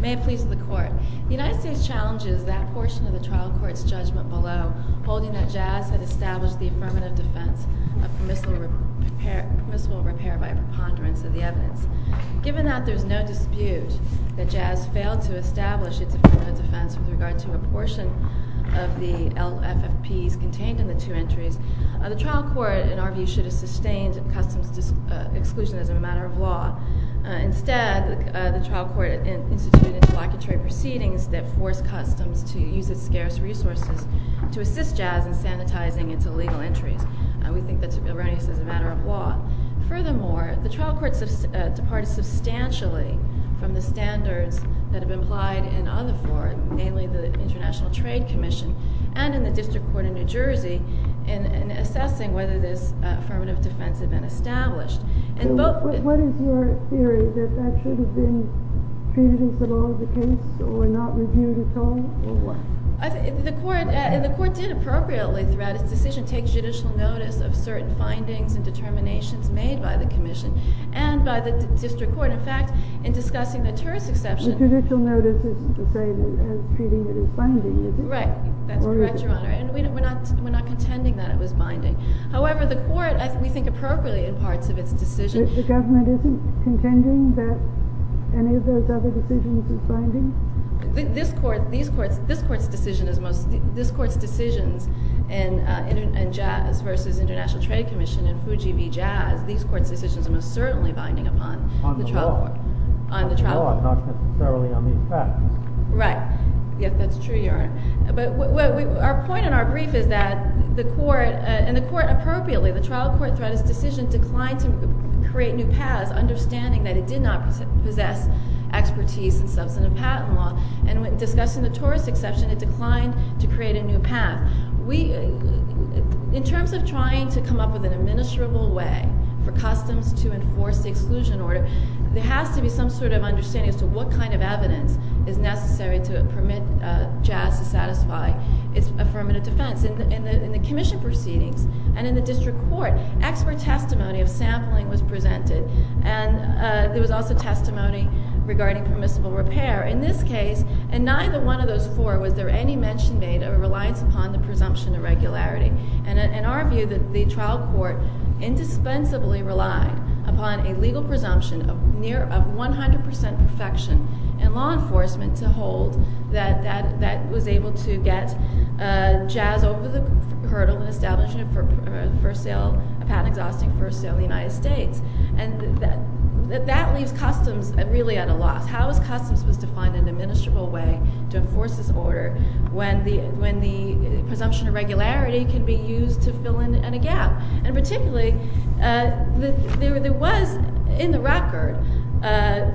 May it please the Court. The United States challenges that portion of the trial court's judgment below, holding that Jazz had established the affirmative defense of permissible repair by preponderance of the evidence. Given that there is no dispute that Jazz failed to establish its affirmative defense with regard to a portion of the LFFPs contained in the two entries, the trial court, in our view, should have sustained customs exclusion as a matter of law. Instead, the trial court instituted interlocutory proceedings that forced customs to use its scarce resources to assist Jazz in sanitizing its illegal entries. We think that's erroneous as a matter of law. Furthermore, the trial court departed substantially from the standards that have been applied in other forms, namely the International Trade Commission, and in the District Court of New Jersey, in assessing whether this affirmative defense had been established. What is your theory? That that should have been treated as the law of the case, or not reviewed at all? The court did appropriately throughout its decision take judicial notice of certain findings and determinations made by the commission, and by the district court, in fact, in discussing the tourist exception. The judicial notice isn't to say that it was treated as binding, is it? Right. That's correct, Your Honor. And we're not contending that it was binding. However, the court, we think appropriately in parts of its decision. The government isn't contending that any of those other decisions is binding? This court's decisions in Jazz versus International Trade Commission in Fuji v. Jazz, these court's decisions are most certainly binding upon the trial court. On the law, not necessarily on these facts. Right. Yes, that's true, Your Honor. But our point in our brief is that the court, and the court appropriately, the trial court throughout its decision declined to create new paths, understanding that it did not possess expertise in substantive patent law. And discussing the tourist exception, it declined to create a new path. In terms of trying to come up with an administrable way for customs to enforce the exclusion order, there has to be some sort of understanding as to what kind of evidence is necessary to permit Jazz to satisfy its affirmative defense. In the commission proceedings, and in the case of Jazz versus International Trade Commission, there was testimony regarding permissible repair. In this case, in neither one of those four, was there any mention made of a reliance upon the presumption of regularity. And in our view, the trial court indispensably relied upon a legal presumption of 100% perfection in law enforcement to hold that it was able to get Jazz over the hurdle in establishing a patent-exhausting first sale in the United States. And that leaves customs really at a loss. How is customs supposed to find an administrable way to enforce this order when the presumption of regularity can be used to fill in a gap? And particularly, there was in the record,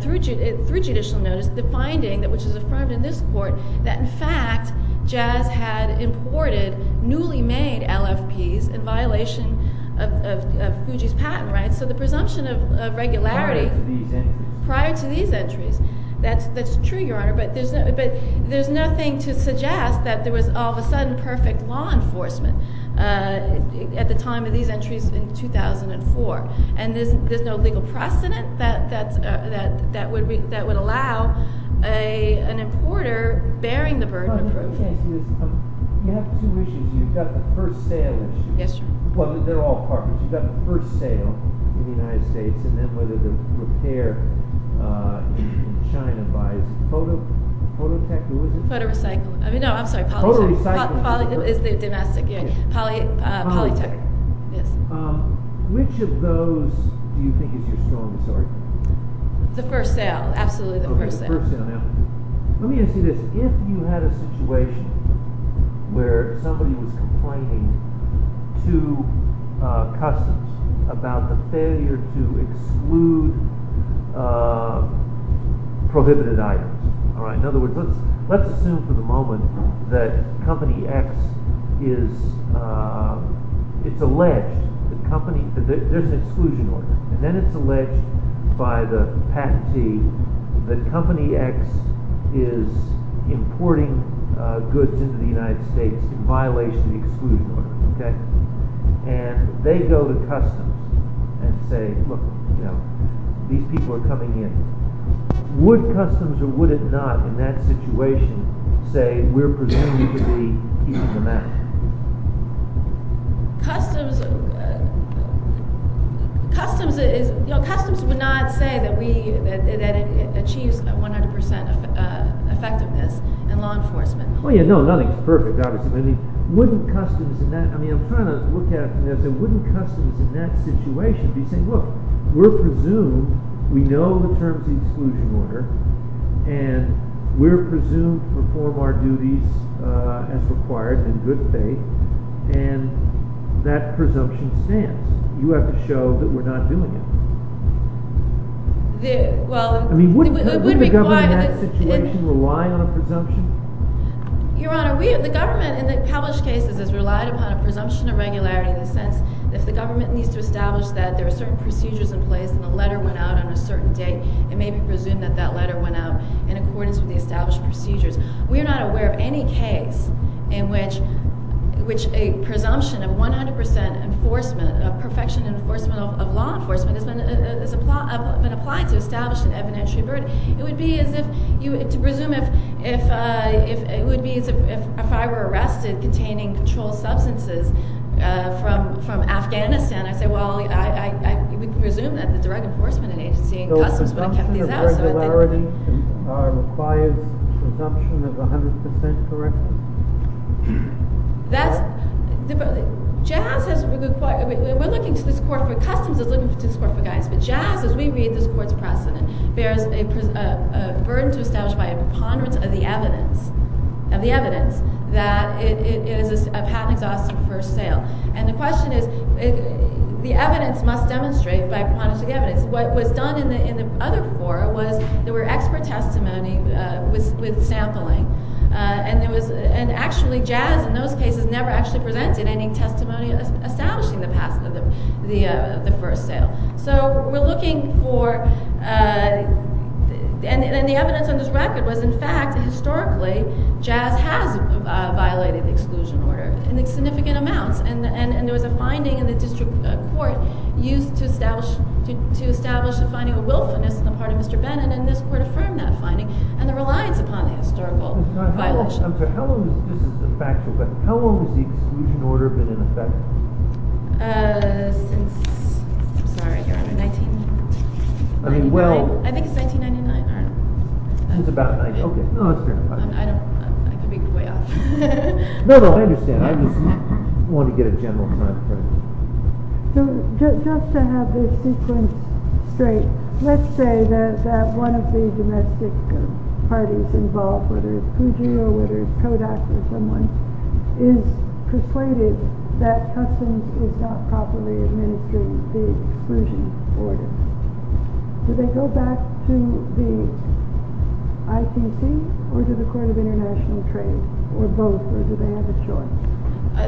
through judicial notice, the finding, which is affirmed in this court, that in fact Jazz had imported newly made LFPs in violation of Fuji's patent rights. So the presumption of regularity... Prior to these entries. Prior to these entries. That's true, Your Honor, but there's nothing to suggest that there was all of a sudden perfect law enforcement at the time of these entries in 2004. And there's no legal precedent that would allow an importer bearing the burden of proof. You have two issues. You've got the first sale issue. Yes, Your Honor. Well, they're all partners. You've got the first sale in the United States, and then whether the repair in China buys phototech or what is it? Photorecycling. I mean, no, I'm sorry, polytech. Poly recycling. Poly is the domestic, yeah. Polytech, yes. Which of those do you think is your strong story? The first sale. Absolutely the first sale. Let me ask you this. If you had a situation where somebody was complaining to Customs about the failure to exclude prohibited items. In other words, let's assume for the moment that Company X is, it's alleged, there's an exclusion order, and then it's alleged by the patentee that Company X is importing goods into the United States in violation of the exclusion order, okay? And they go to Customs and say, look, you know, these people are coming in. Would Customs or would it not in that situation say, we're presuming you could be keeping them out? Customs is, you know, Customs would not say that we, that it achieves 100% effectiveness in law enforcement. Oh, yeah, no, nothing's perfect, obviously. I mean, wouldn't Customs in that, I mean, I'm trying to look at, wouldn't Customs in that situation be saying, look, we're presumed, we know the terms of the exclusion order, and we're presumed to perform our duties as a good faith, and that presumption stands. You have to show that we're not doing it. I mean, wouldn't the government in that situation rely on a presumption? Your Honor, the government in the published cases has relied upon a presumption of regularity in the sense that if the government needs to establish that there are certain procedures in place and a letter went out on a certain date, it may be presumed that that letter went out in accordance with the established procedures. We are not aware of any case in which a presumption of 100% enforcement, a perfection of enforcement of law enforcement has been applied to establish an evidentiary verdict. It would be as if you, to presume if, it would be as if I were arrested containing controlled substances from Afghanistan, I say, well, I would presume that the direct enforcement agency in Customs would have kept these out. The presumption of regularity requires presumption of 100% correctness? That's, Jazz has, we're looking to this court for, Customs is looking to this court for guidance, but Jazz, as we read this court's precedent, bears a burden to establish by a preponderance of the evidence, of the evidence, that it is a patent exhausted for sale. And the question is, the evidence must demonstrate by preponderance of the evidence. What was done in the other court was, there were expert testimony with sampling, and actually, Jazz, in those cases, never actually presented any testimony establishing the past of the first sale. So, we're looking for, and the evidence on this record was, in fact, historically, Jazz has violated the exclusion order in significant amounts, and there was a finding in the district court used to establish, to establish a finding of willfulness on the part of Mr. Bennett, and this court affirmed that finding, and the reliance upon the historical violation. I'm sorry, how long has, this is a factual question, how long has the exclusion order been in effect? Since, I'm sorry, I think it's 1999, I don't know. Since about, okay, no, that's fair enough. I don't, I could be way off. No, no, I understand, I just wanted to get a general time frame. So, just to have this sequence straight, let's say that one of the domestic parties involved, whether it's Gujira, whether it's Kodak or someone, is persuaded that customs is not properly administering the exclusion order. Do they go back to the IPC, or to the court of international trade, or both, or do they have a choice?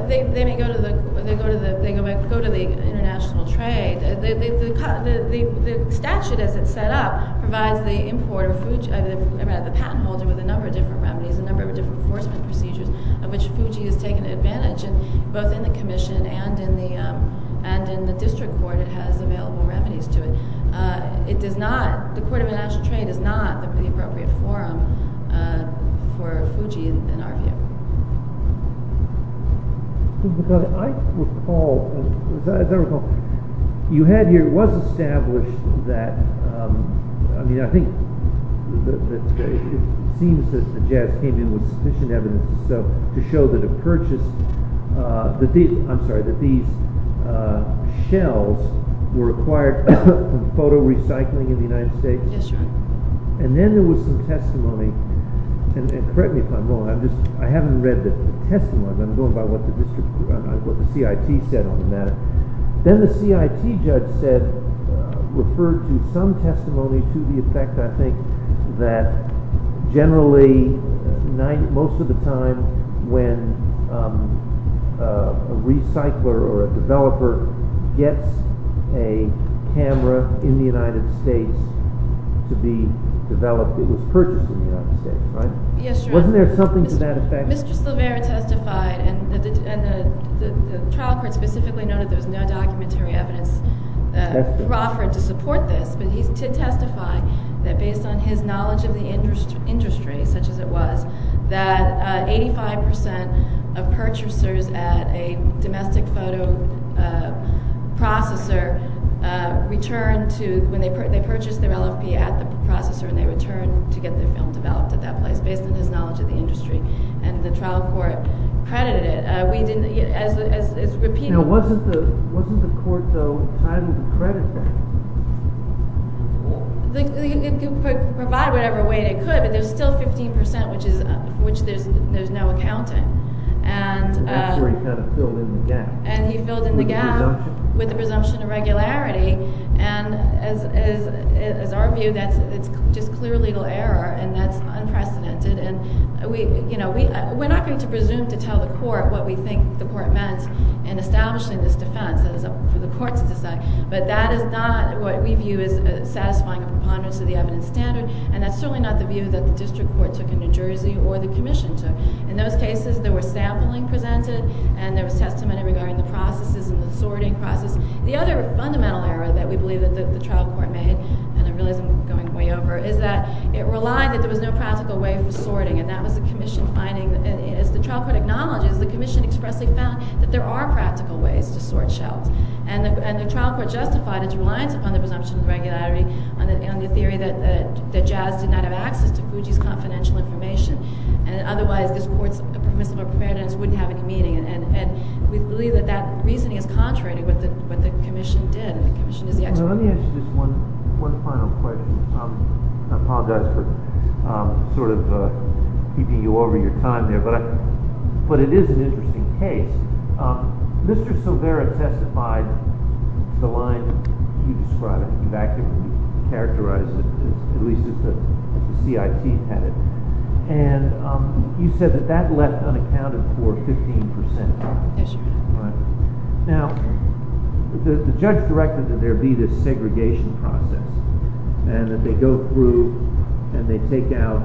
They may go to the international trade. The statute, as it's set up, provides the importer, the patent holder with a number of different remedies, a number of different enforcement procedures, of which Gujira has taken advantage, and both in the commission and in the district court, it has available remedies to it. It does not, the court of international trade does not have the appropriate forum for Gujira in our view. I recall, as I recall, you had here, it was established that, I mean, I think, it seems that the jazz came in with sufficient evidence to show that a purchase, I'm sorry, that these shells were acquired from photo recycling in the United States. Yes, sir. And then there was some testimony, and correct me if I'm wrong, I haven't read the testimony, I'm going by what the district, what the CIT said on the matter. Then the CIT judge said, referred to some testimony to the effect, I think, that generally most of the time when a recycler or a developer gets a camera in the United States to be developed, it was purchased in the United States, right? Yes, sir. Wasn't there something to that effect? Mr. Silvera testified, and the trial court specifically noted there was no documentary evidence offered to support this, but he did testify that based on his knowledge of the industry, such as it was, that 85% of purchasers at a domestic photo processor returned to, when they purchased their LFP at the processor and they returned to get their film developed at that place, based on his knowledge of the industry, and the trial court credited it. We didn't, as repeated... Now, wasn't the court, though, entitled to credit that? It could provide whatever way it could, but there's still 15%, which there's no accounting. And that's where he kind of filled in the gap. And he filled in the gap with the presumption of regularity, and as our view, that's just clear legal error, and that's unprecedented. We're not going to presume to tell the court what we think the court meant in establishing this defense for the court to decide, but that is not what we view as satisfying a preponderance of the evidence standard, and that's certainly not the view that the district court took in New Jersey or the commission took. In those cases, there was sampling presented, and there was testimony regarding the processes and the sorting process. The other fundamental error that we believe that the trial court made, and I realize I'm going way over, is that it relied that there was no practical way for sorting, and that was the commission finding, as the trial court acknowledges, the commission expressly found that there are practical ways to sort shells. And the trial court justified its reliance upon the presumption of regularity on the theory that Jazz did not have access to Fuji's confidential information, and otherwise this court's permissible preponderance wouldn't have any meaning. And we believe that that reasoning is contrary to what the commission did. The commission is the expert. Let me ask you just one final question. I apologize for sort of keeping you over your time here, but it is an interesting case. Mr. Silvera testified the line that you described, in fact, you characterized it at least as the CIT had it. And you said that that left unaccounted for 15%. Yes, Your Honor. All right. Now, the judge directed that there be this segregation process, and that they go through and they take out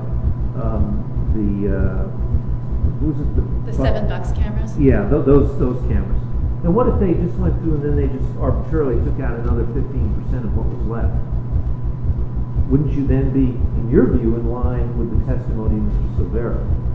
the, what was it? The seven box cameras. Yeah, those cameras. Now, what if they just went through and then they just arbitrarily took out another 15% of what was left? Wouldn't you then be, in your view, in line with the testimony of Mr. Silvera?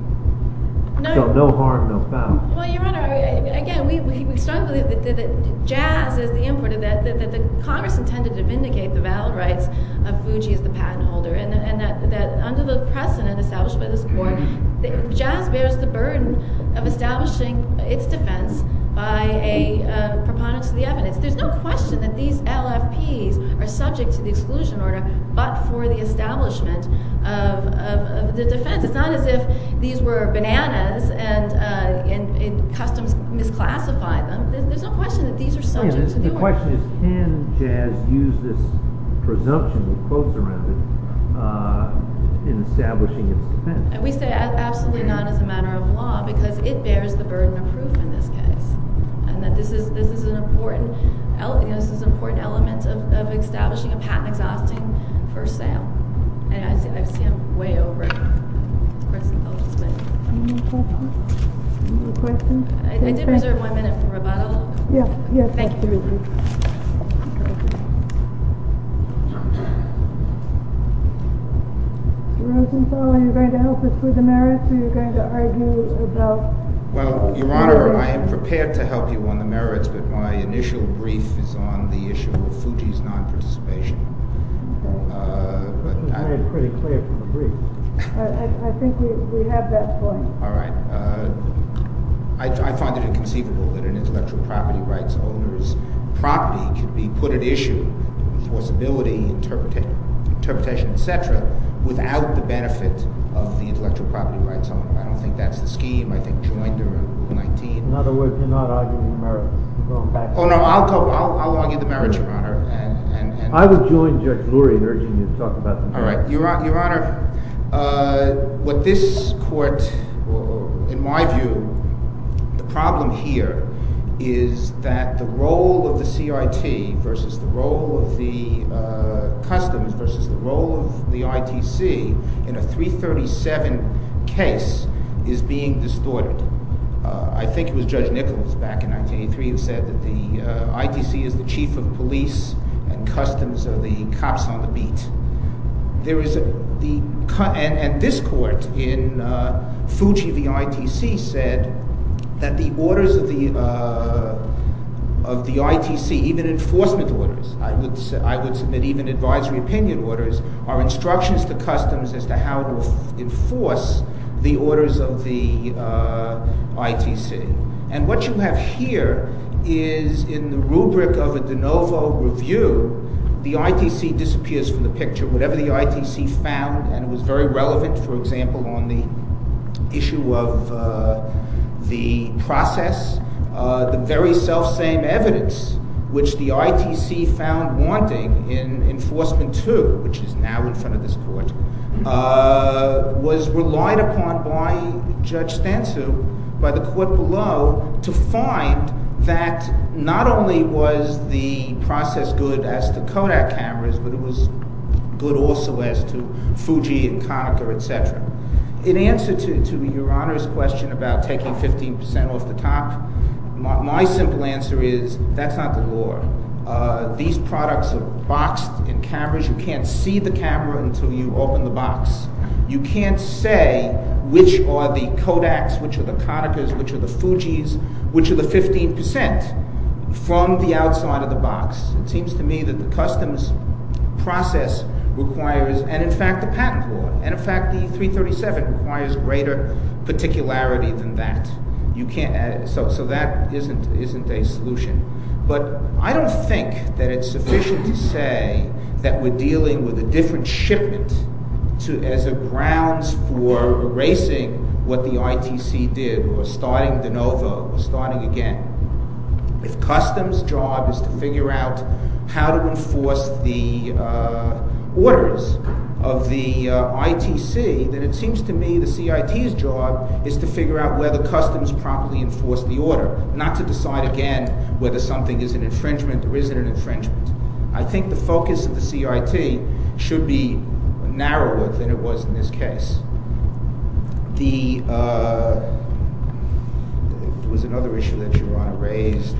No. So no harm, no foul. Well, Your Honor, again, we strongly believe that Jazz is the importer, that Congress intended to vindicate the valid rights of Fuji as the patent holder, and that under the precedent established by this Court, Jazz bears the burden of establishing its defense by a proponent to the evidence. There's no question that these LFPs are subject to the exclusion order, but for the establishment of the defense. It's not as if these were bananas and customs misclassified them. My question is, can Jazz use this presumption with quotes around it in establishing its defense? And we say absolutely not as a matter of law, because it bears the burden of proof in this case. And that this is an important element of establishing a patent exhausting for sale. And I see I'm way over. Any more questions? I did reserve one minute for rebuttal. Yes. Thank you. Mr. Rosenthal, are you going to help us with the merits, or are you going to argue about Well, Your Honor, I am prepared to help you on the merits, but my initial brief is on the issue of Fuji's non-participation. Okay. But I am pretty clear from the brief. I think we have that point. All right. I find it inconceivable that an intellectual property rights owner's property could be put at issue, enforceability, interpretation, et cetera, without the benefit of the intellectual property rights owner. I don't think that's the scheme. I think Joinder and Rule 19. In other words, you're not arguing the merits. Oh, no, I'll go. I'll argue the merits, Your Honor. I would join Judge Lurie in urging you to talk about the merits. All right. Your Honor, what this court, in my view, the problem here is that the role of the CIT versus the role of the customs versus the role of the ITC in a 337 case is being distorted. I think it was Judge Nichols back in 1983 who said that the ITC is the chief of police and customs are the cops on the beat. There is a—and this court in Fuji v. ITC said that the orders of the ITC, even enforcement orders, I would submit even advisory opinion orders, are instructions to customs as to how to enforce the orders of the ITC. And what you have here is in the rubric of a de novo review, the ITC disappears from the picture. Whatever the ITC found, and it was very relevant, for example, on the issue of the process, the very selfsame evidence which the ITC found wanting in Enforcement 2, which is now in Enforcement 3. So to find that not only was the process good as to Kodak cameras, but it was good also as to Fuji and Konica, et cetera. In answer to your Honor's question about taking 15 percent off the top, my simple answer is that's not the law. These products are boxed in cameras. You can't see the camera until you open the box. You can't say which are the Kodaks, which are the Konicas, which are the Fujis, which are the 15 percent from the outside of the box. It seems to me that the customs process requires—and in fact the patent law, and in fact the 337 requires greater particularity than that. So that isn't a solution. But I don't think that it's sufficient to say that we're dealing with a different shipment as a grounds for erasing what the ITC did or starting de novo or starting again. If customs' job is to figure out how to enforce the orders of the ITC, then it seems to me the CIT's job is to figure out whether customs properly enforced the order, not to decide again whether something is an infringement or isn't an infringement. I think the focus of the CIT should be narrower than it was in this case. There was another issue that Geron raised.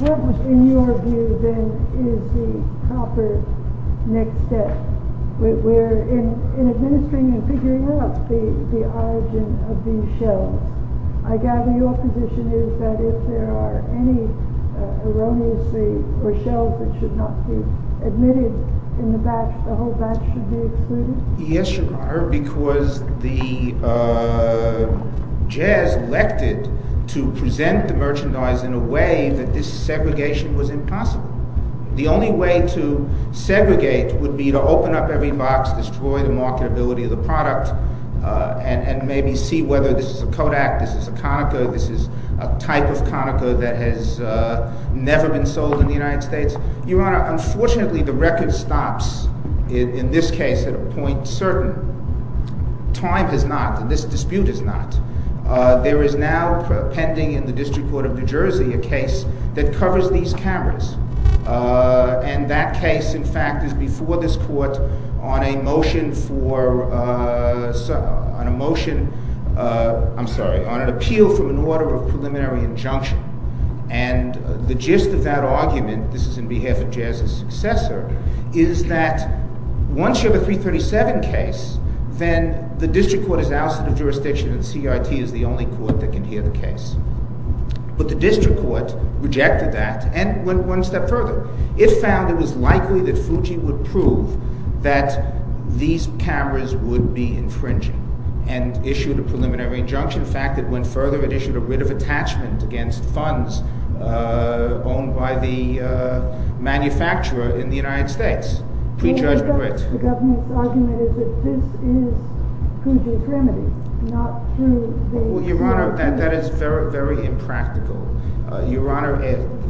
What, in your view, then, is the proper next step? We're in administering and figuring out the origin of these shelves. I gather your position is that if there are any erroneously—or shelves that should not be admitted in the batch, the whole batch should be excluded? Yes, Your Honor, because the JAS elected to present the merchandise in a way that this segregation was impossible. The only way to segregate would be to open up every box, destroy the marketability of the product, and maybe see whether this is a Kodak, this is a Konica, this is a type of Konica that has never been sold in the United States. Your Honor, unfortunately, the record stops in this case at a point certain. Time has not. This dispute has not. There is now pending in the District Court of New Jersey a case that covers these cameras. And that case, in fact, is before this Court on a motion for—on a motion—I'm sorry, on an appeal from an order of preliminary injunction. And the gist of that argument—this is on behalf of JAS's successor—is that once you have a 337 case, then the District Court is ousted of jurisdiction and CIT is the only court that can hear the case. But the District Court rejected that and went one step further. It found it was likely that Fuji would prove that these cameras would be infringing and issued a preliminary injunction. In fact, it went further. It issued a writ of attachment against funds owned by the manufacturer in the United States, pre-judgment writ. The government's argument is that this is Fuji's remedy, not through the— Well, Your Honor, that is very, very impractical. Your Honor,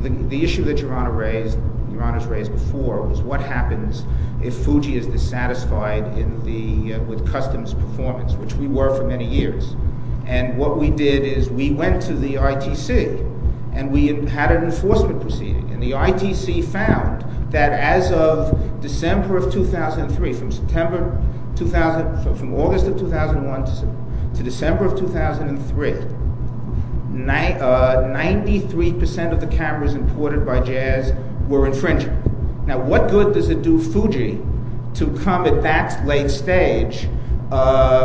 the issue that Your Honor raised—Your Honor's raised before—was what happens if Fuji is dissatisfied in the—with customs performance, which we were for many years. And what we did is we went to the ITC and we had an enforcement proceeding. And the ITC found that as of December of 2003, from September 2000—from August of 2001 to December of 2003—93 percent of the cameras imported by Jazz were infringing. Now, what good does it do Fuji to come at that late stage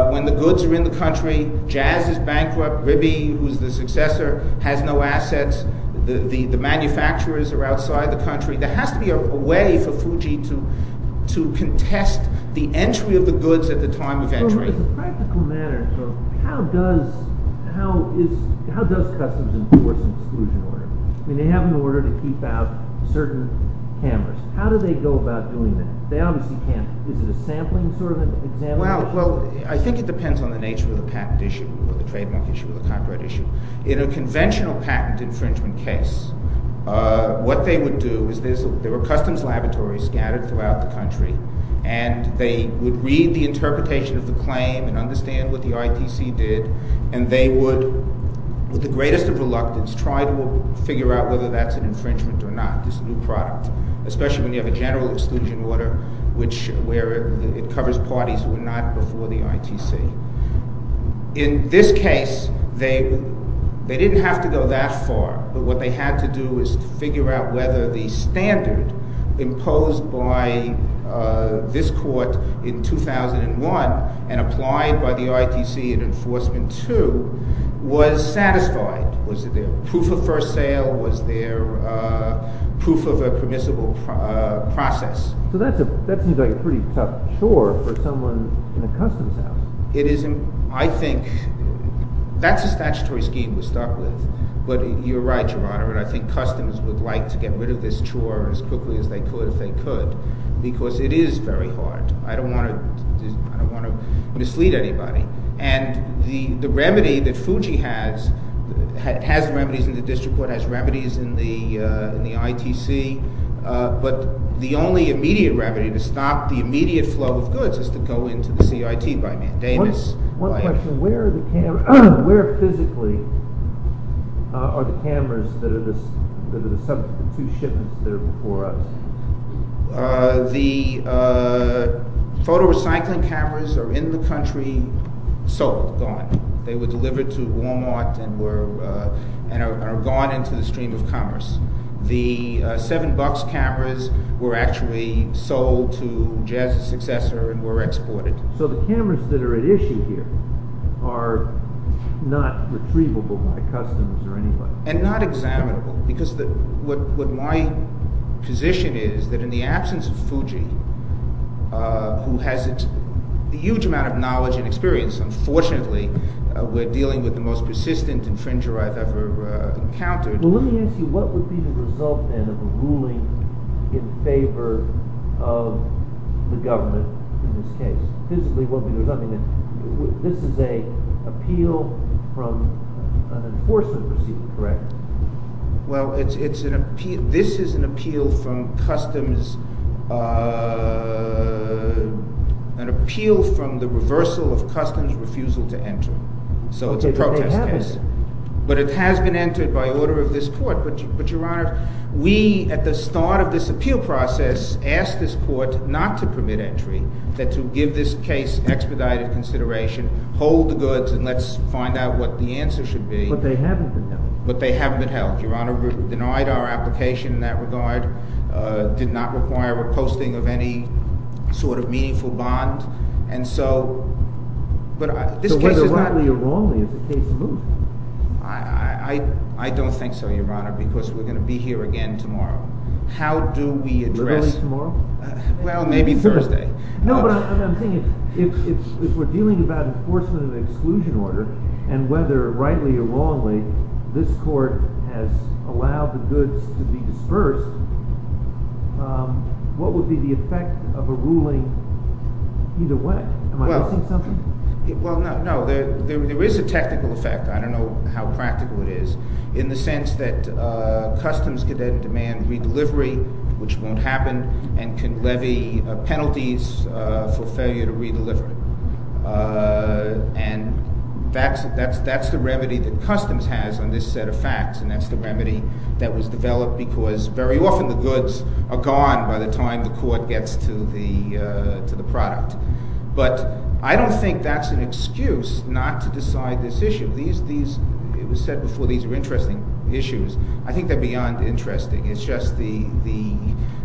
when the goods are in the country, Jazz is bankrupt, Ribi, who's the successor, has no assets, the manufacturers are outside the country? There has to be a way for Fuji to contest the entry of the goods at the time of entry. In a practical manner, though, how does—how is—how does customs enforce an exclusion order? I mean, they have an order to keep out certain cameras. How do they go about doing that? They obviously can't—is it a sampling sort of an example? Well, I think it depends on the nature of the patent issue or the trademark issue or the copyright issue. In a conventional patent infringement case, what they would do is there were customs laboratories scattered throughout the country, and they would read the interpretation of the claim and understand what the ITC did, and they would, with the greatest of reluctance, try to figure out whether that's an infringement or not, this new product, especially when you have a general exclusion order which—where it covers parties who were not before the ITC. In this case, they didn't have to go that far, but what they had to do is figure out whether the standard imposed by this court in 2001 and applied by the ITC in Enforcement II was satisfied. Was there proof of first sale? Was there proof of a permissible process? So that seems like a pretty tough chore for someone in a customs house. It is. I think that's a statutory scheme we're stuck with, but you're right, Your Honor, and I think customs would like to get rid of this chore as quickly as they could if they could, because it is very hard. I don't want to mislead anybody, and the remedy that Fuji has has remedies in the district court, has remedies in the ITC, but the only immediate remedy to stop the immediate flow of goods is to go into the CIT by mandamus. One question. Where physically are the cameras that are the two shipments that are before us? The photo recycling cameras are in the country sold, gone. They were delivered to Walmart and are gone into the stream of commerce. The seven bucks cameras were actually sold to Jazz's successor and were exported. So the cameras that are at issue here are not retrievable by customs or anybody? And not examinable, because what my position is that in the absence of Fuji, who has a huge amount of knowledge and experience, unfortunately we're dealing with the most persistent infringer I've ever encountered. Well, let me ask you, what would be the result then of a ruling in favor of the government in this case? This is an appeal from an enforcement proceeding, correct? Well, this is an appeal from customs, an appeal from the reversal of customs refusal to enter. So it's a protest case. But it has been entered by order of this court. We, at the start of this appeal process, asked this court not to permit entry, but to give this case expedited consideration, hold the goods, and let's find out what the answer should be. But they haven't been held. But they haven't been held. Your Honor, we denied our application in that regard, did not require reposting of any sort of meaningful bond. So whether rightly or wrongly, is the case moot? I don't think so, Your Honor, because we're going to be here again tomorrow. How do we address... Literally tomorrow? Well, maybe Thursday. No, but I'm saying if we're dealing about enforcement of an exclusion order, and whether rightly or wrongly, this court has allowed the goods to be dispersed, what would be the effect of a ruling either way? Am I missing something? Well, no. There is a technical effect. I don't know how practical it is, in the sense that Customs could then demand redelivery, which won't happen, and can levy penalties for failure to redeliver it. And that's the remedy that Customs has on this set of facts, and that's the remedy that was developed because very often the goods are gone by the time the court gets to the product. But I don't think that's an excuse not to decide this issue. It was said before, these are interesting issues. I think they're beyond interesting. It's just the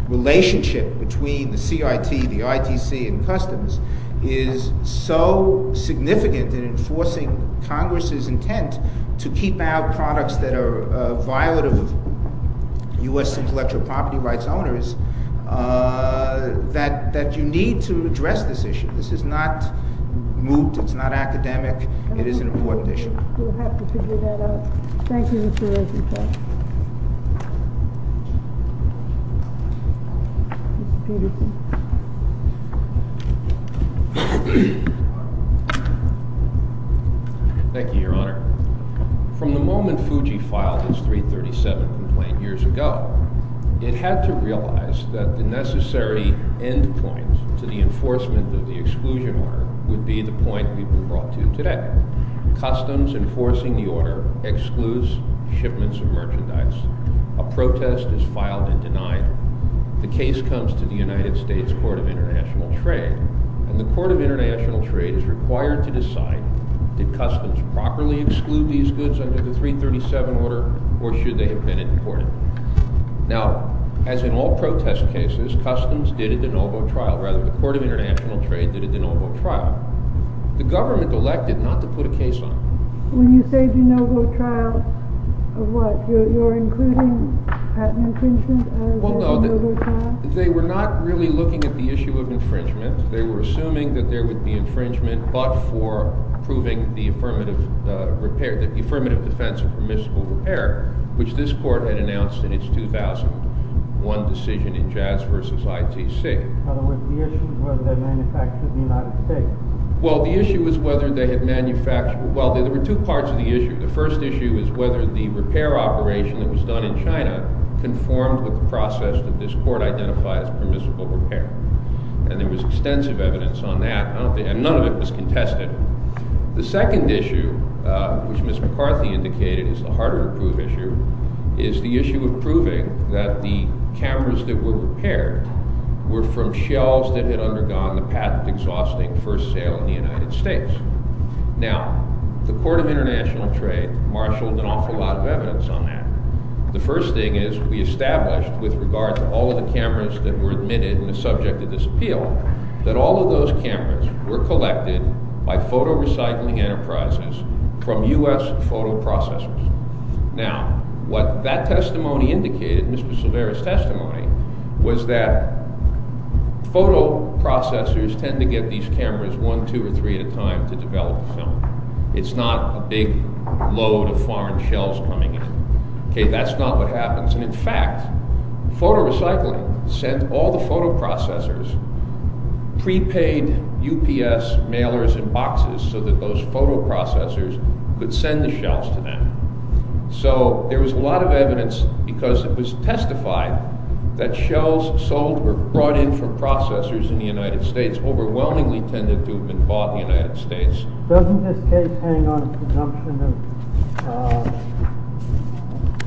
relationship between the CIT, the ITC, and Customs is so significant in enforcing Congress's intent to keep out products that are violent of U.S. intellectual property rights owners, that you need to address this issue. This is not moot. It's not academic. It is an important issue. Thank you, Mr. Rosenfeld. Mr. Peterson. Thank you, Your Honor. From the moment FUJI filed its 337 complaint years ago, it had the effect that it would have to realize that the necessary end point to the enforcement of the exclusion order would be the point we've been brought to today. Customs enforcing the order excludes shipments of merchandise. A protest is filed and denied. The case comes to the United States Court of International Trade, and the Court of International Trade is required to decide did Customs properly exclude these goods under the 337 order, or should they have been imported? Now, as in all protest cases, Customs did a de novo trial. Rather, the Court of International Trade did a de novo trial. The government elected not to put a case on it. When you say de novo trial, of what? You're including patent infringement as a de novo trial? Well, no. They were not really looking at the issue of infringement. They were assuming that there would be infringement but for proving the affirmative repair, the 2001 decision in Jazz v. ITC. In other words, the issue was whether they manufactured in the United States. Well, the issue was whether they had manufactured. Well, there were two parts of the issue. The first issue was whether the repair operation that was done in China conformed with the process that this Court identified as permissible repair. And there was extensive evidence on that, and none of it was contested. The second issue, which Ms. McCarthy indicated is the harder-to-prove issue, is the issue of proving that the cameras that were repaired were from shells that had undergone the patent-exhausting first sale in the United States. Now, the Court of International Trade marshaled an awful lot of evidence on that. The first thing is we established, with regard to all of the cameras that were admitted in enterprises from U.S. photoprocessors. Now, what that testimony indicated, Mr. Silvera's testimony, was that photoprocessors tend to get these cameras one, two, or three at a time to develop film. It's not a big load of foreign shells coming in. Okay, that's not what happens. And, in fact, photorecycling sent all the photoprocessors prepaid UPS mailers in boxes so that those photoprocessors could send the shells to them. So there was a lot of evidence, because it was testified that shells sold or brought in from processors in the United States overwhelmingly tended to have been bought in the United States. Doesn't this case hang on a presumption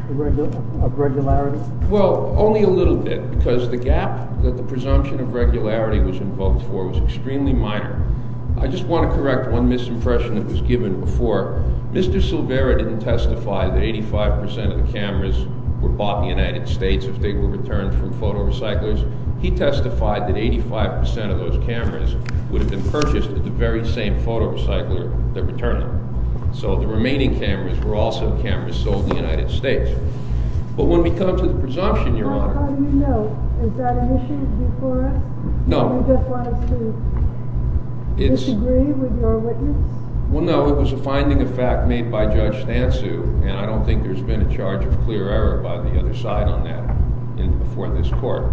of regularity? Well, only a little bit, because the gap that the presumption of regularity was invoked for was extremely minor. I just want to correct one misimpression that was given before. Mr. Silvera didn't testify that 85 percent of the cameras were bought in the United States if they were returned from photorecyclers. He testified that 85 percent of those cameras would have been purchased at the very same photorecycler that returned them. So the remaining cameras were also cameras sold in the United States. But when we come to the presumption, Your Honor— How do you know? Is that an issue before us? No. Do you just want us to disagree with your witness? Well, no. It was a finding of fact made by Judge Stansu, and I don't think there's been a charge of clear error by the other side on that before this Court.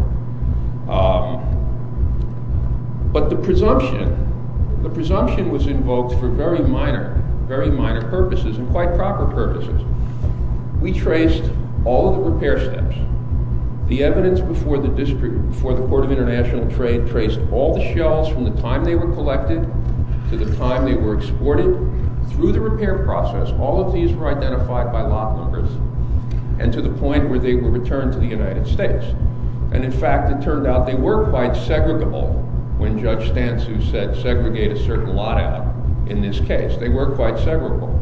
But the presumption—the presumption was invoked for very minor, very minor purposes and quite proper purposes. We traced all of the repair steps. The evidence before the Court of International Trade traced all the shells from the time they were collected to the time they were exported. And through the repair process, all of these were identified by lot numbers and to the point where they were returned to the United States. And in fact, it turned out they were quite segregable when Judge Stansu said segregate a certain lot out in this case. They were quite segregable.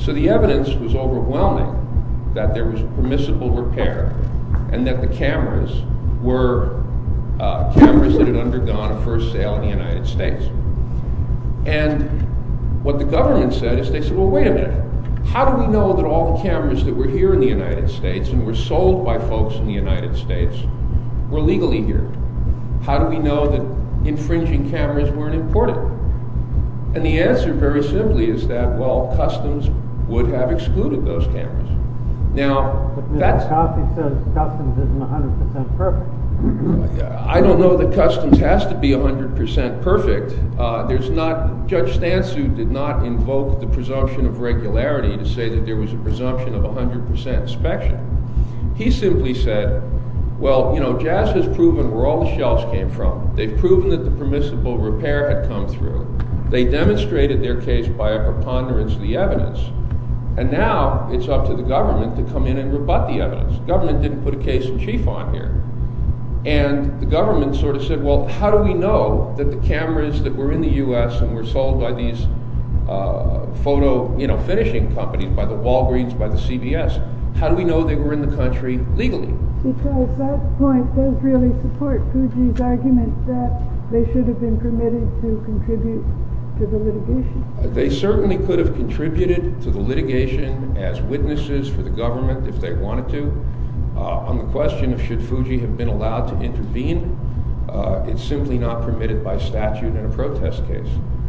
So the evidence was overwhelming that there was permissible repair and that the cameras were cameras that had undergone a first sale in the United States. And what the government said is they said, well, wait a minute. How do we know that all the cameras that were here in the United States and were sold by folks in the United States were legally here? How do we know that infringing cameras weren't imported? And the answer very simply is that, well, customs would have excluded those cameras. Now, that's— But Mr. Coffey says customs isn't 100 percent perfect. I don't know that customs has to be 100 percent perfect. There's not—Judge Stansu did not invoke the presumption of regularity to say that there was a presumption of 100 percent inspection. He simply said, well, you know, Jazz has proven where all the shelves came from. They've proven that the permissible repair had come through. They demonstrated their case by a preponderance of the evidence. And now it's up to the government to come in and rebut the evidence. The government didn't put a case in chief on here. And the government sort of said, well, how do we know that the cameras that were in the U.S. and were sold by these photo finishing companies, by the Walgreens, by the CBS, how do we know they were in the country legally? Because that point does really support Fuji's argument that they should have been permitted to contribute to the litigation. They certainly could have contributed to the litigation as witnesses for the On the question of should Fuji have been allowed to intervene, it's simply not permitted by statute in a protest case.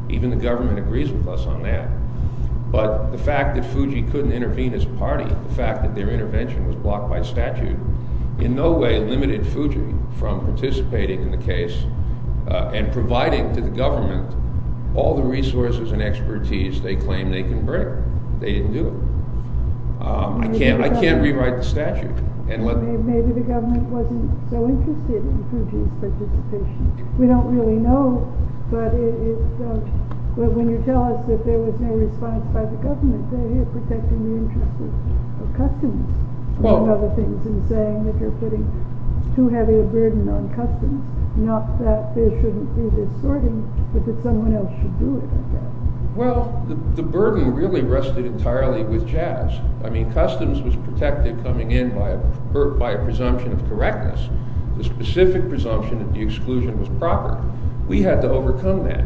Even the government agrees with us on that. But the fact that Fuji couldn't intervene as party, the fact that their intervention was blocked by statute, in no way limited Fuji from participating in the case and providing to the government all the resources and expertise they claimed they can bring. They didn't do it. I can't rewrite the statute. Maybe the government wasn't so interested in Fuji's participation. We don't really know. But when you tell us that there was no response by the government, you're protecting the interest of customs and saying that you're putting too heavy a burden on customs. Not that there shouldn't be this sorting, but that someone else should do it. Well, the burden really rested entirely with jazz. I mean, customs was protected coming in by a presumption of correctness. The specific presumption of the exclusion was proper. We had to overcome that.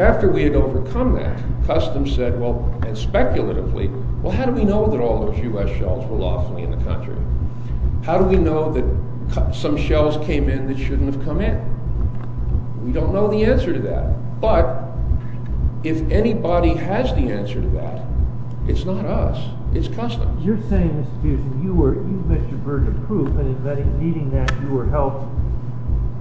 After we had overcome that, customs said, well, and speculatively, well, how do we know that all those U.S. shells were lawfully in the country? How do we know that some shells came in that shouldn't have come in? We don't know the answer to that. But if anybody has the answer to that, it's not us. It's customs. You're saying, Mr. Pearson, you were Mr. burden of proof, and in meeting that you were helped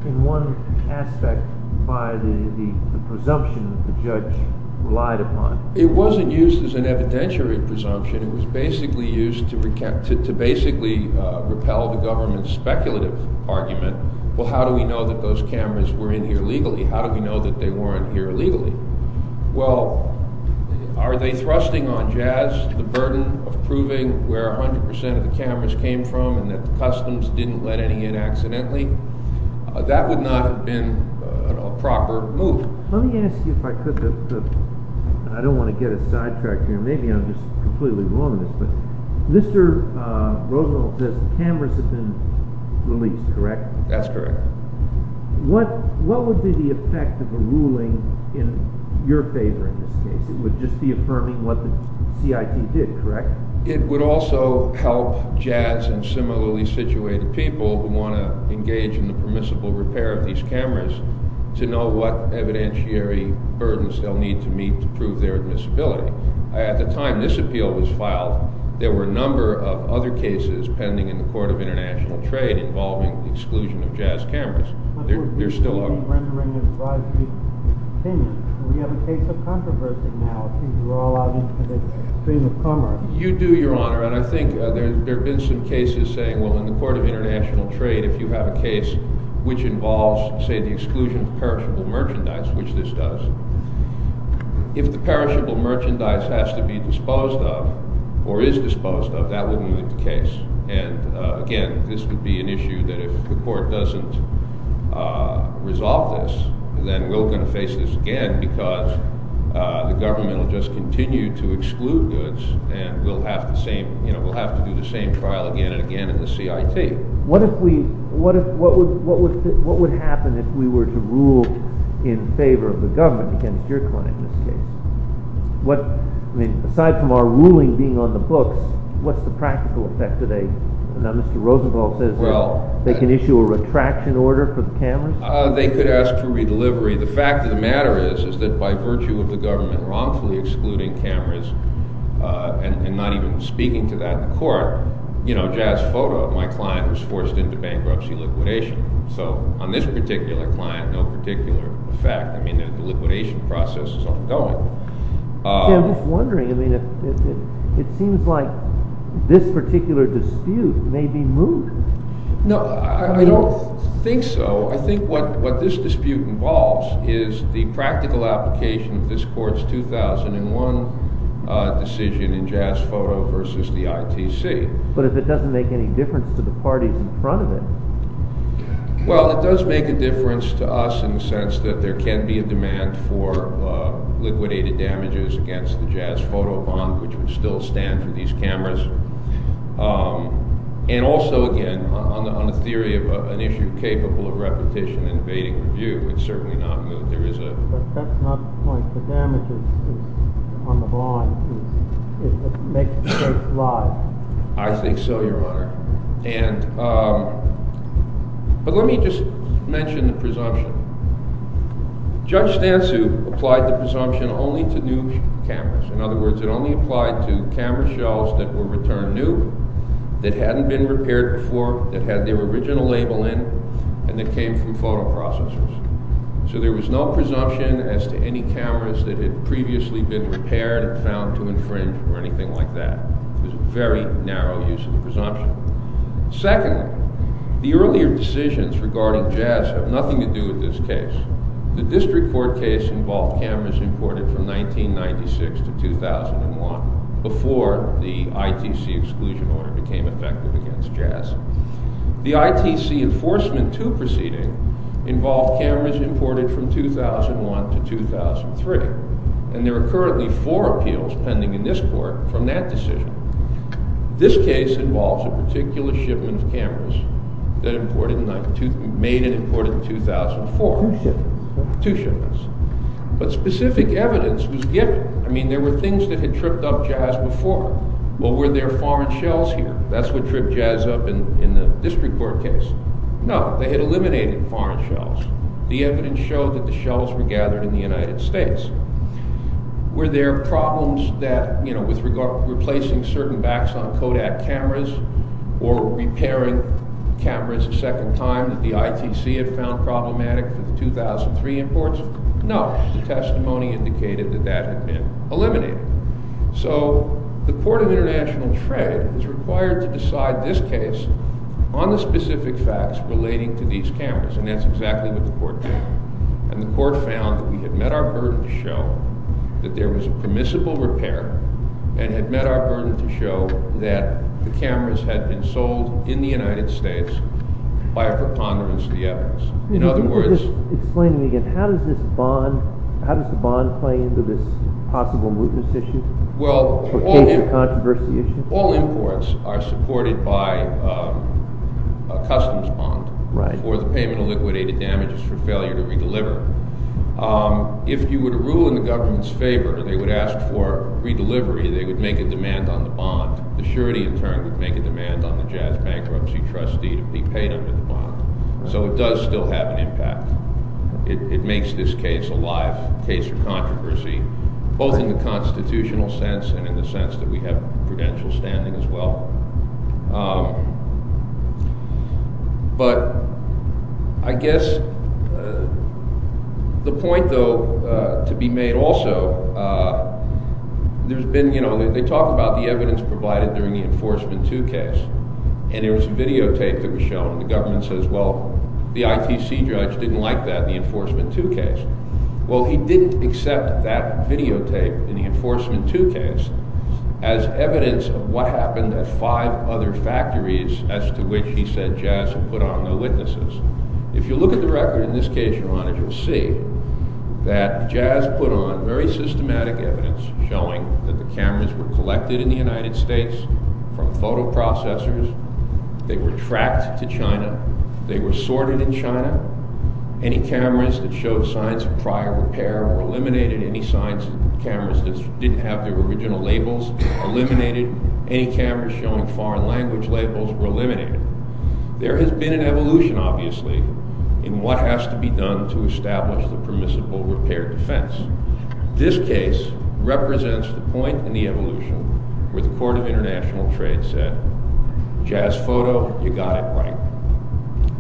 in one aspect by the presumption that the judge relied upon. It wasn't used as an evidentiary presumption. It was basically used to repel the government's speculative argument. Well, how do we know that those cameras were in here legally? How do we know that they weren't here illegally? Well, are they thrusting on jazz the burden of proving where 100% of the cameras came from and that the customs didn't let any in accidentally? That would not have been a proper move. Let me ask you if I could. I don't want to get a sidetrack here. Maybe I'm just completely wrong on this, but Mr. Rosenthal says cameras have been released, correct? That's correct. What would be the effect of a ruling in your favor in this case? It would just be affirming what the CIT did, correct? It would also help jazz and similarly situated people who want to engage in the permissible repair of these cameras to know what evidentiary burdens they'll need to meet to prove their admissibility. At the time this appeal was filed, there were a number of other cases pending in the court of international trade involving the exclusion of jazz cameras. There still are. But we're rendering an advisory opinion. We have a case of controversy now. It seems we're all out into the stream of commerce. You do, Your Honor, and I think there have been some cases saying, well, in the court of international trade, if you have a case which involves, say, the exclusion of perishable merchandise, which this does, if the perishable merchandise has to be disposed of or is disposed of, that wouldn't be the case. And again, this would be an issue that if the court doesn't resolve this, then we're going to face this again because the government will just continue to exclude goods and we'll have to do the same trial again and again in the CIT. What would happen if we were to rule in favor of the government against your client in this case? Aside from our ruling being on the books, what's the practical effect? Now, Mr. Rosenthal says they can issue a retraction order for the cameras? They could ask for redelivery. The fact of the matter is that by virtue of the government wrongfully excluding cameras and not even speaking to that in court, jazz photo of my client was forced into bankruptcy liquidation. So on this particular client, no particular effect. I mean, the liquidation process is ongoing. I'm just wondering. It seems like this particular dispute may be moved. No, I don't think so. I think what this dispute involves is the practical application of this court's 2001 decision in jazz photo versus the ITC. But if it doesn't make any difference to the parties in front of it. Well, it does make a difference to us in the sense that there can be a demand for liquidated damages against the jazz photo bond, which would still stand for these cameras. And also, again, on the theory of an issue capable of repetition and evading review, it's certainly not moved. But that's not the point. The damage is on the bond. It makes the case lie. I think so, Your Honor. But let me just mention the presumption. Judge Stansu applied the presumption only to new cameras. In other words, it only applied to camera shells that were returned new, that hadn't been repaired before, that had their original label in, and that came from photo processors. So there was no presumption as to any cameras that had previously been repaired or found to infringe or anything like that. It was a very narrow use of the presumption. Secondly, the earlier decisions regarding jazz have nothing to do with this case. The district court case involved cameras imported from 1996 to 2001, before the ITC exclusion order became effective against jazz. The ITC Enforcement 2 proceeding involved cameras imported from 2001 to 2003, and there are currently four appeals pending in this court from that decision. This case involves a particular shipment of cameras that made and imported in 2004. Two shipments. Two shipments. But specific evidence was given. I mean, there were things that had tripped up jazz before. Well, were there foreign shells here? That's what tripped jazz up in the district court case. No, they had eliminated foreign shells. The evidence showed that the shells were gathered in the United States. Were there problems with replacing certain backs on Kodak cameras or repairing cameras a second time that the ITC had found problematic for the 2003 imports? No. The testimony indicated that that had been eliminated. So the Court of International Trade is required to decide this case on the specific facts relating to these cameras, and that's exactly what the court did. And the court found that we had met our burden to show that there was a permissible repair and had met our burden to show that the cameras had been sold in the United States by a preponderance of the evidence. In other words— Explain to me again, how does this bond— how does the bond play into this possible mootness issue? Well, all imports are supported by a customs bond for the payment of liquidated damages for failure to re-deliver. If you would rule in the government's favor, they would ask for re-delivery. They would make a demand on the bond. The surety, in turn, would make a demand on the jazz bankruptcy trustee to be paid under the bond. So it does still have an impact. It makes this case a live case of controversy, both in the constitutional sense and in the sense that we have prudential standing as well. But I guess the point, though, to be made also, there's been—you know, they talk about the evidence provided during the Enforcement 2 case. And there was videotape that was shown. The government says, well, the ITC judge didn't like that, the Enforcement 2 case. Well, he didn't accept that videotape in the Enforcement 2 case as evidence of what happened at five other factories as to which he said jazz had put on the witnesses. If you look at the record in this case, Your Honor, you'll see that jazz put on very systematic evidence showing that the cameras were collected in the United States from photoprocessors. They were tracked to China. They were sorted in China. Any cameras that showed signs of prior repair or eliminated any signs of cameras that didn't have their original labels eliminated. Any cameras showing foreign language labels were eliminated. There has been an evolution, obviously, in what has to be done to establish the permissible repair defense. This case represents the point in the evolution where the Court of International Trade said, jazz photo, you got it right.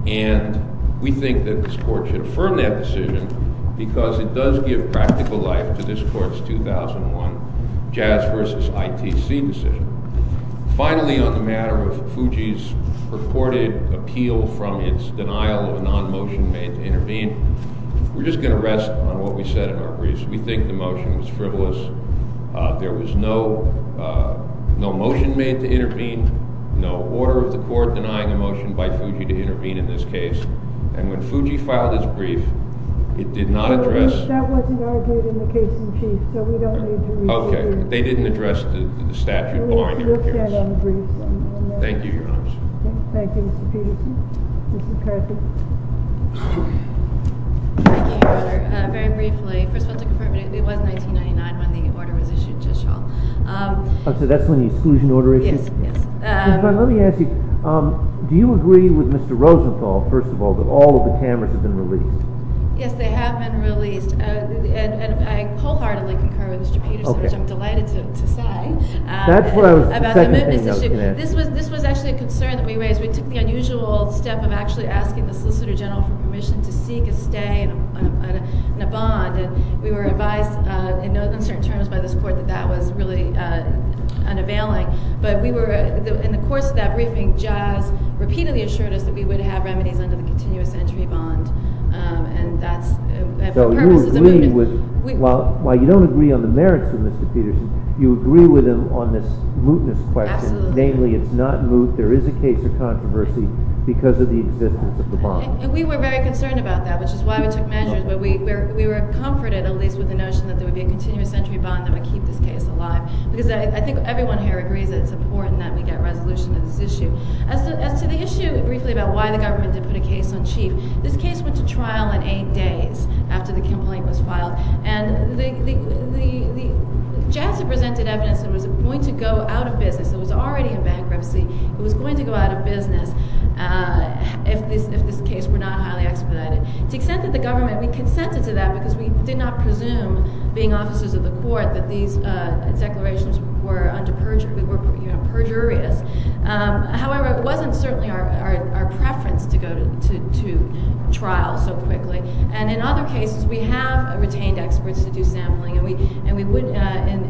And we think that this Court should affirm that decision because it does give practical life to this Court's 2001 jazz versus ITC decision. Finally, on the matter of Fuji's purported appeal from its denial of a non-motion made to intervene, we're just going to rest on what we said in our briefs. We think the motion was frivolous. There was no motion made to intervene, no order of the Court denying a motion by Fuji to intervene in this case. And when Fuji filed his brief, it did not address... That wasn't argued in the case in chief, so we don't need to read through it. Okay, they didn't address the statute barring interference. We'll look at it on the briefs. Thank you, Your Honor. Thank you, Mr. Peterson. Ms. McCarthy. Thank you, Your Honor. Very briefly, first of all, to confirm, it was 1999 when the order was issued, Judge Schall. Oh, so that's when the exclusion order issued? Yes, yes. Ms. McCarthy, let me ask you, do you agree with Mr. Rosenthal, first of all, that all of the cameras have been released? Yes, they have been released, and I wholeheartedly concur with Mr. Peterson, which I'm delighted to say, about the mootness issue. This was actually a concern that we raised. We took the unusual step of actually asking the Solicitor General for permission to seek a stay in a bond, and we were advised in no uncertain terms by this Court that that was really unavailing. But we were, in the course of that briefing, Jazz repeatedly assured us that we would have remedies under the continuous entry bond, and that's for purposes of mootness. So you agree with, while you don't agree on the merits of Mr. Peterson, you agree with him on this mootness question. Absolutely. Namely, it's not moot, there is a case of controversy because of the existence of the bond. And we were very concerned about that, which is why we took measures. But we were comforted, at least with the notion that there would be a continuous entry bond that would keep this case alive. Because I think everyone here agrees that it's important that we get resolution to this issue. As to the issue, briefly, about why the government didn't put a case on chief, this case went to trial in eight days after the complaint was filed. And Jazz had presented evidence that it was going to go out of business. It was already in bankruptcy. It was going to go out of business if this case were not highly expedited. To the extent that the government, we consented to that because we did not presume, being officers of the court, that these declarations were under perjury. We were perjurious. However, it wasn't certainly our preference to go to trial so quickly. And in other cases, we have retained experts to do sampling. And we would,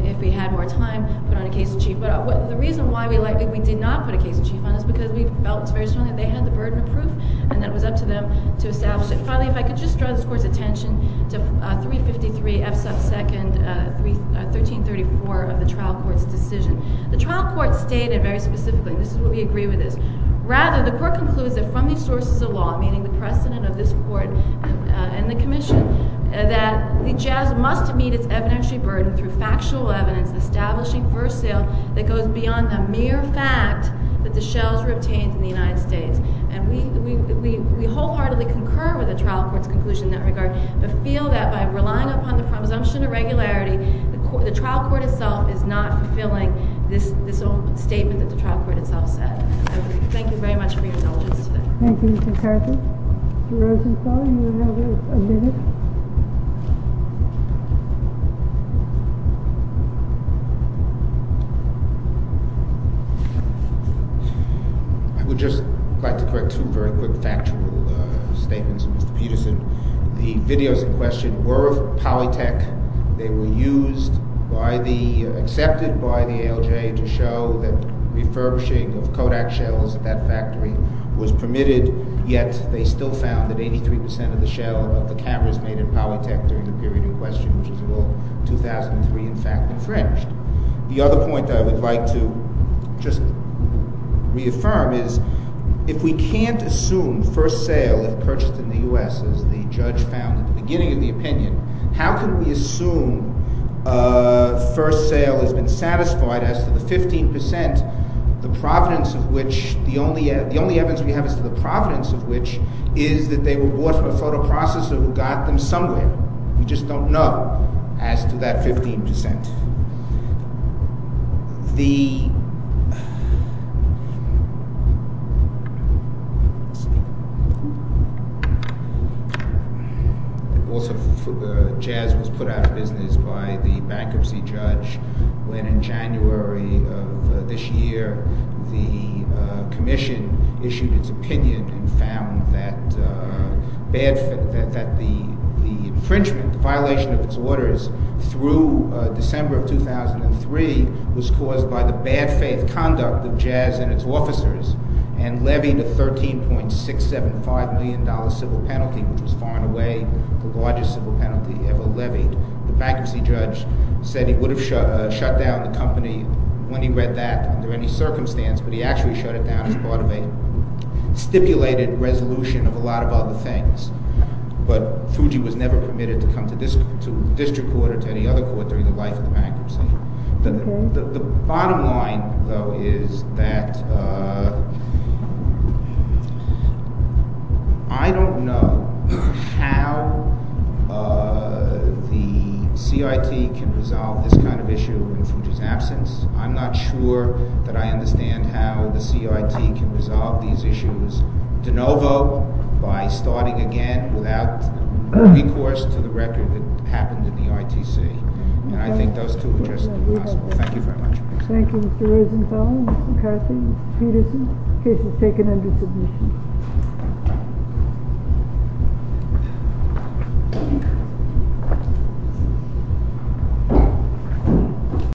if we had more time, put on a case in chief. But the reason why we did not put a case in chief on this is because we felt very strongly that they had the burden of proof and that it was up to them to establish it. And finally, if I could just draw this Court's attention to 353 F sub 2nd, 1334 of the trial court's decision. The trial court stated very specifically, and this is where we agree with this, rather the court concludes that from these sources of law, meaning the precedent of this court and the commission, that the Jazz must meet its evidentiary burden through factual evidence establishing for sale that goes beyond the mere fact that the shells were obtained in the United States. And we wholeheartedly concur with the trial court's conclusion in that regard, but feel that by relying upon the presumption of regularity, the trial court itself is not fulfilling this statement that the trial court itself said. Thank you very much for your indulgence today. Thank you, Ms. McCarthy. Mr. Rosenstein, you have a minute. I would just like to correct two very quick factual statements of Mr. Peterson. The videos in question were of Polytech. They were used by the—accepted by the ALJ to show that refurbishing of Kodak shells at that factory was permitted, yet they still found that 83 percent of the shell of the cameras made in Polytech during the period in question, which is a little—2003, in fact, infringed. The other point I would like to just reaffirm is if we can't assume first sale if purchased in the U.S., as the judge found at the beginning of the opinion, how can we assume first sale has been satisfied as to the 15 percent, the providence of which—the only evidence we have as to the providence of which is that they were bought from a photo processor who got them somewhere. We just don't know as to that 15 percent. Also, jazz was put out of business by the bankruptcy judge when in January of this year the commission issued its opinion and found that the infringement, the violation of its orders through December of 2003 was caused by the bad faith conduct of jazz and its officers and levied a $13.675 million civil penalty, which was far and away the largest civil penalty ever levied. The bankruptcy judge said he would have shut down the company when he read that under any circumstance, but he actually shut it down as part of a stipulated resolution of a lot of other things. But Fuji was never permitted to come to district court or to any other court during the life of the bankruptcy. The bottom line, though, is that I don't know how the CIT can resolve this kind of issue in Fuji's absence. I'm not sure that I understand how the CIT can resolve these issues de novo by starting again without recourse to the record that happened in the ITC. And I think those two are just impossible. Thank you very much. Thank you, Mr. Rosenthal, Mr. McCarthy, Mr. Peterson. The case is taken under submission.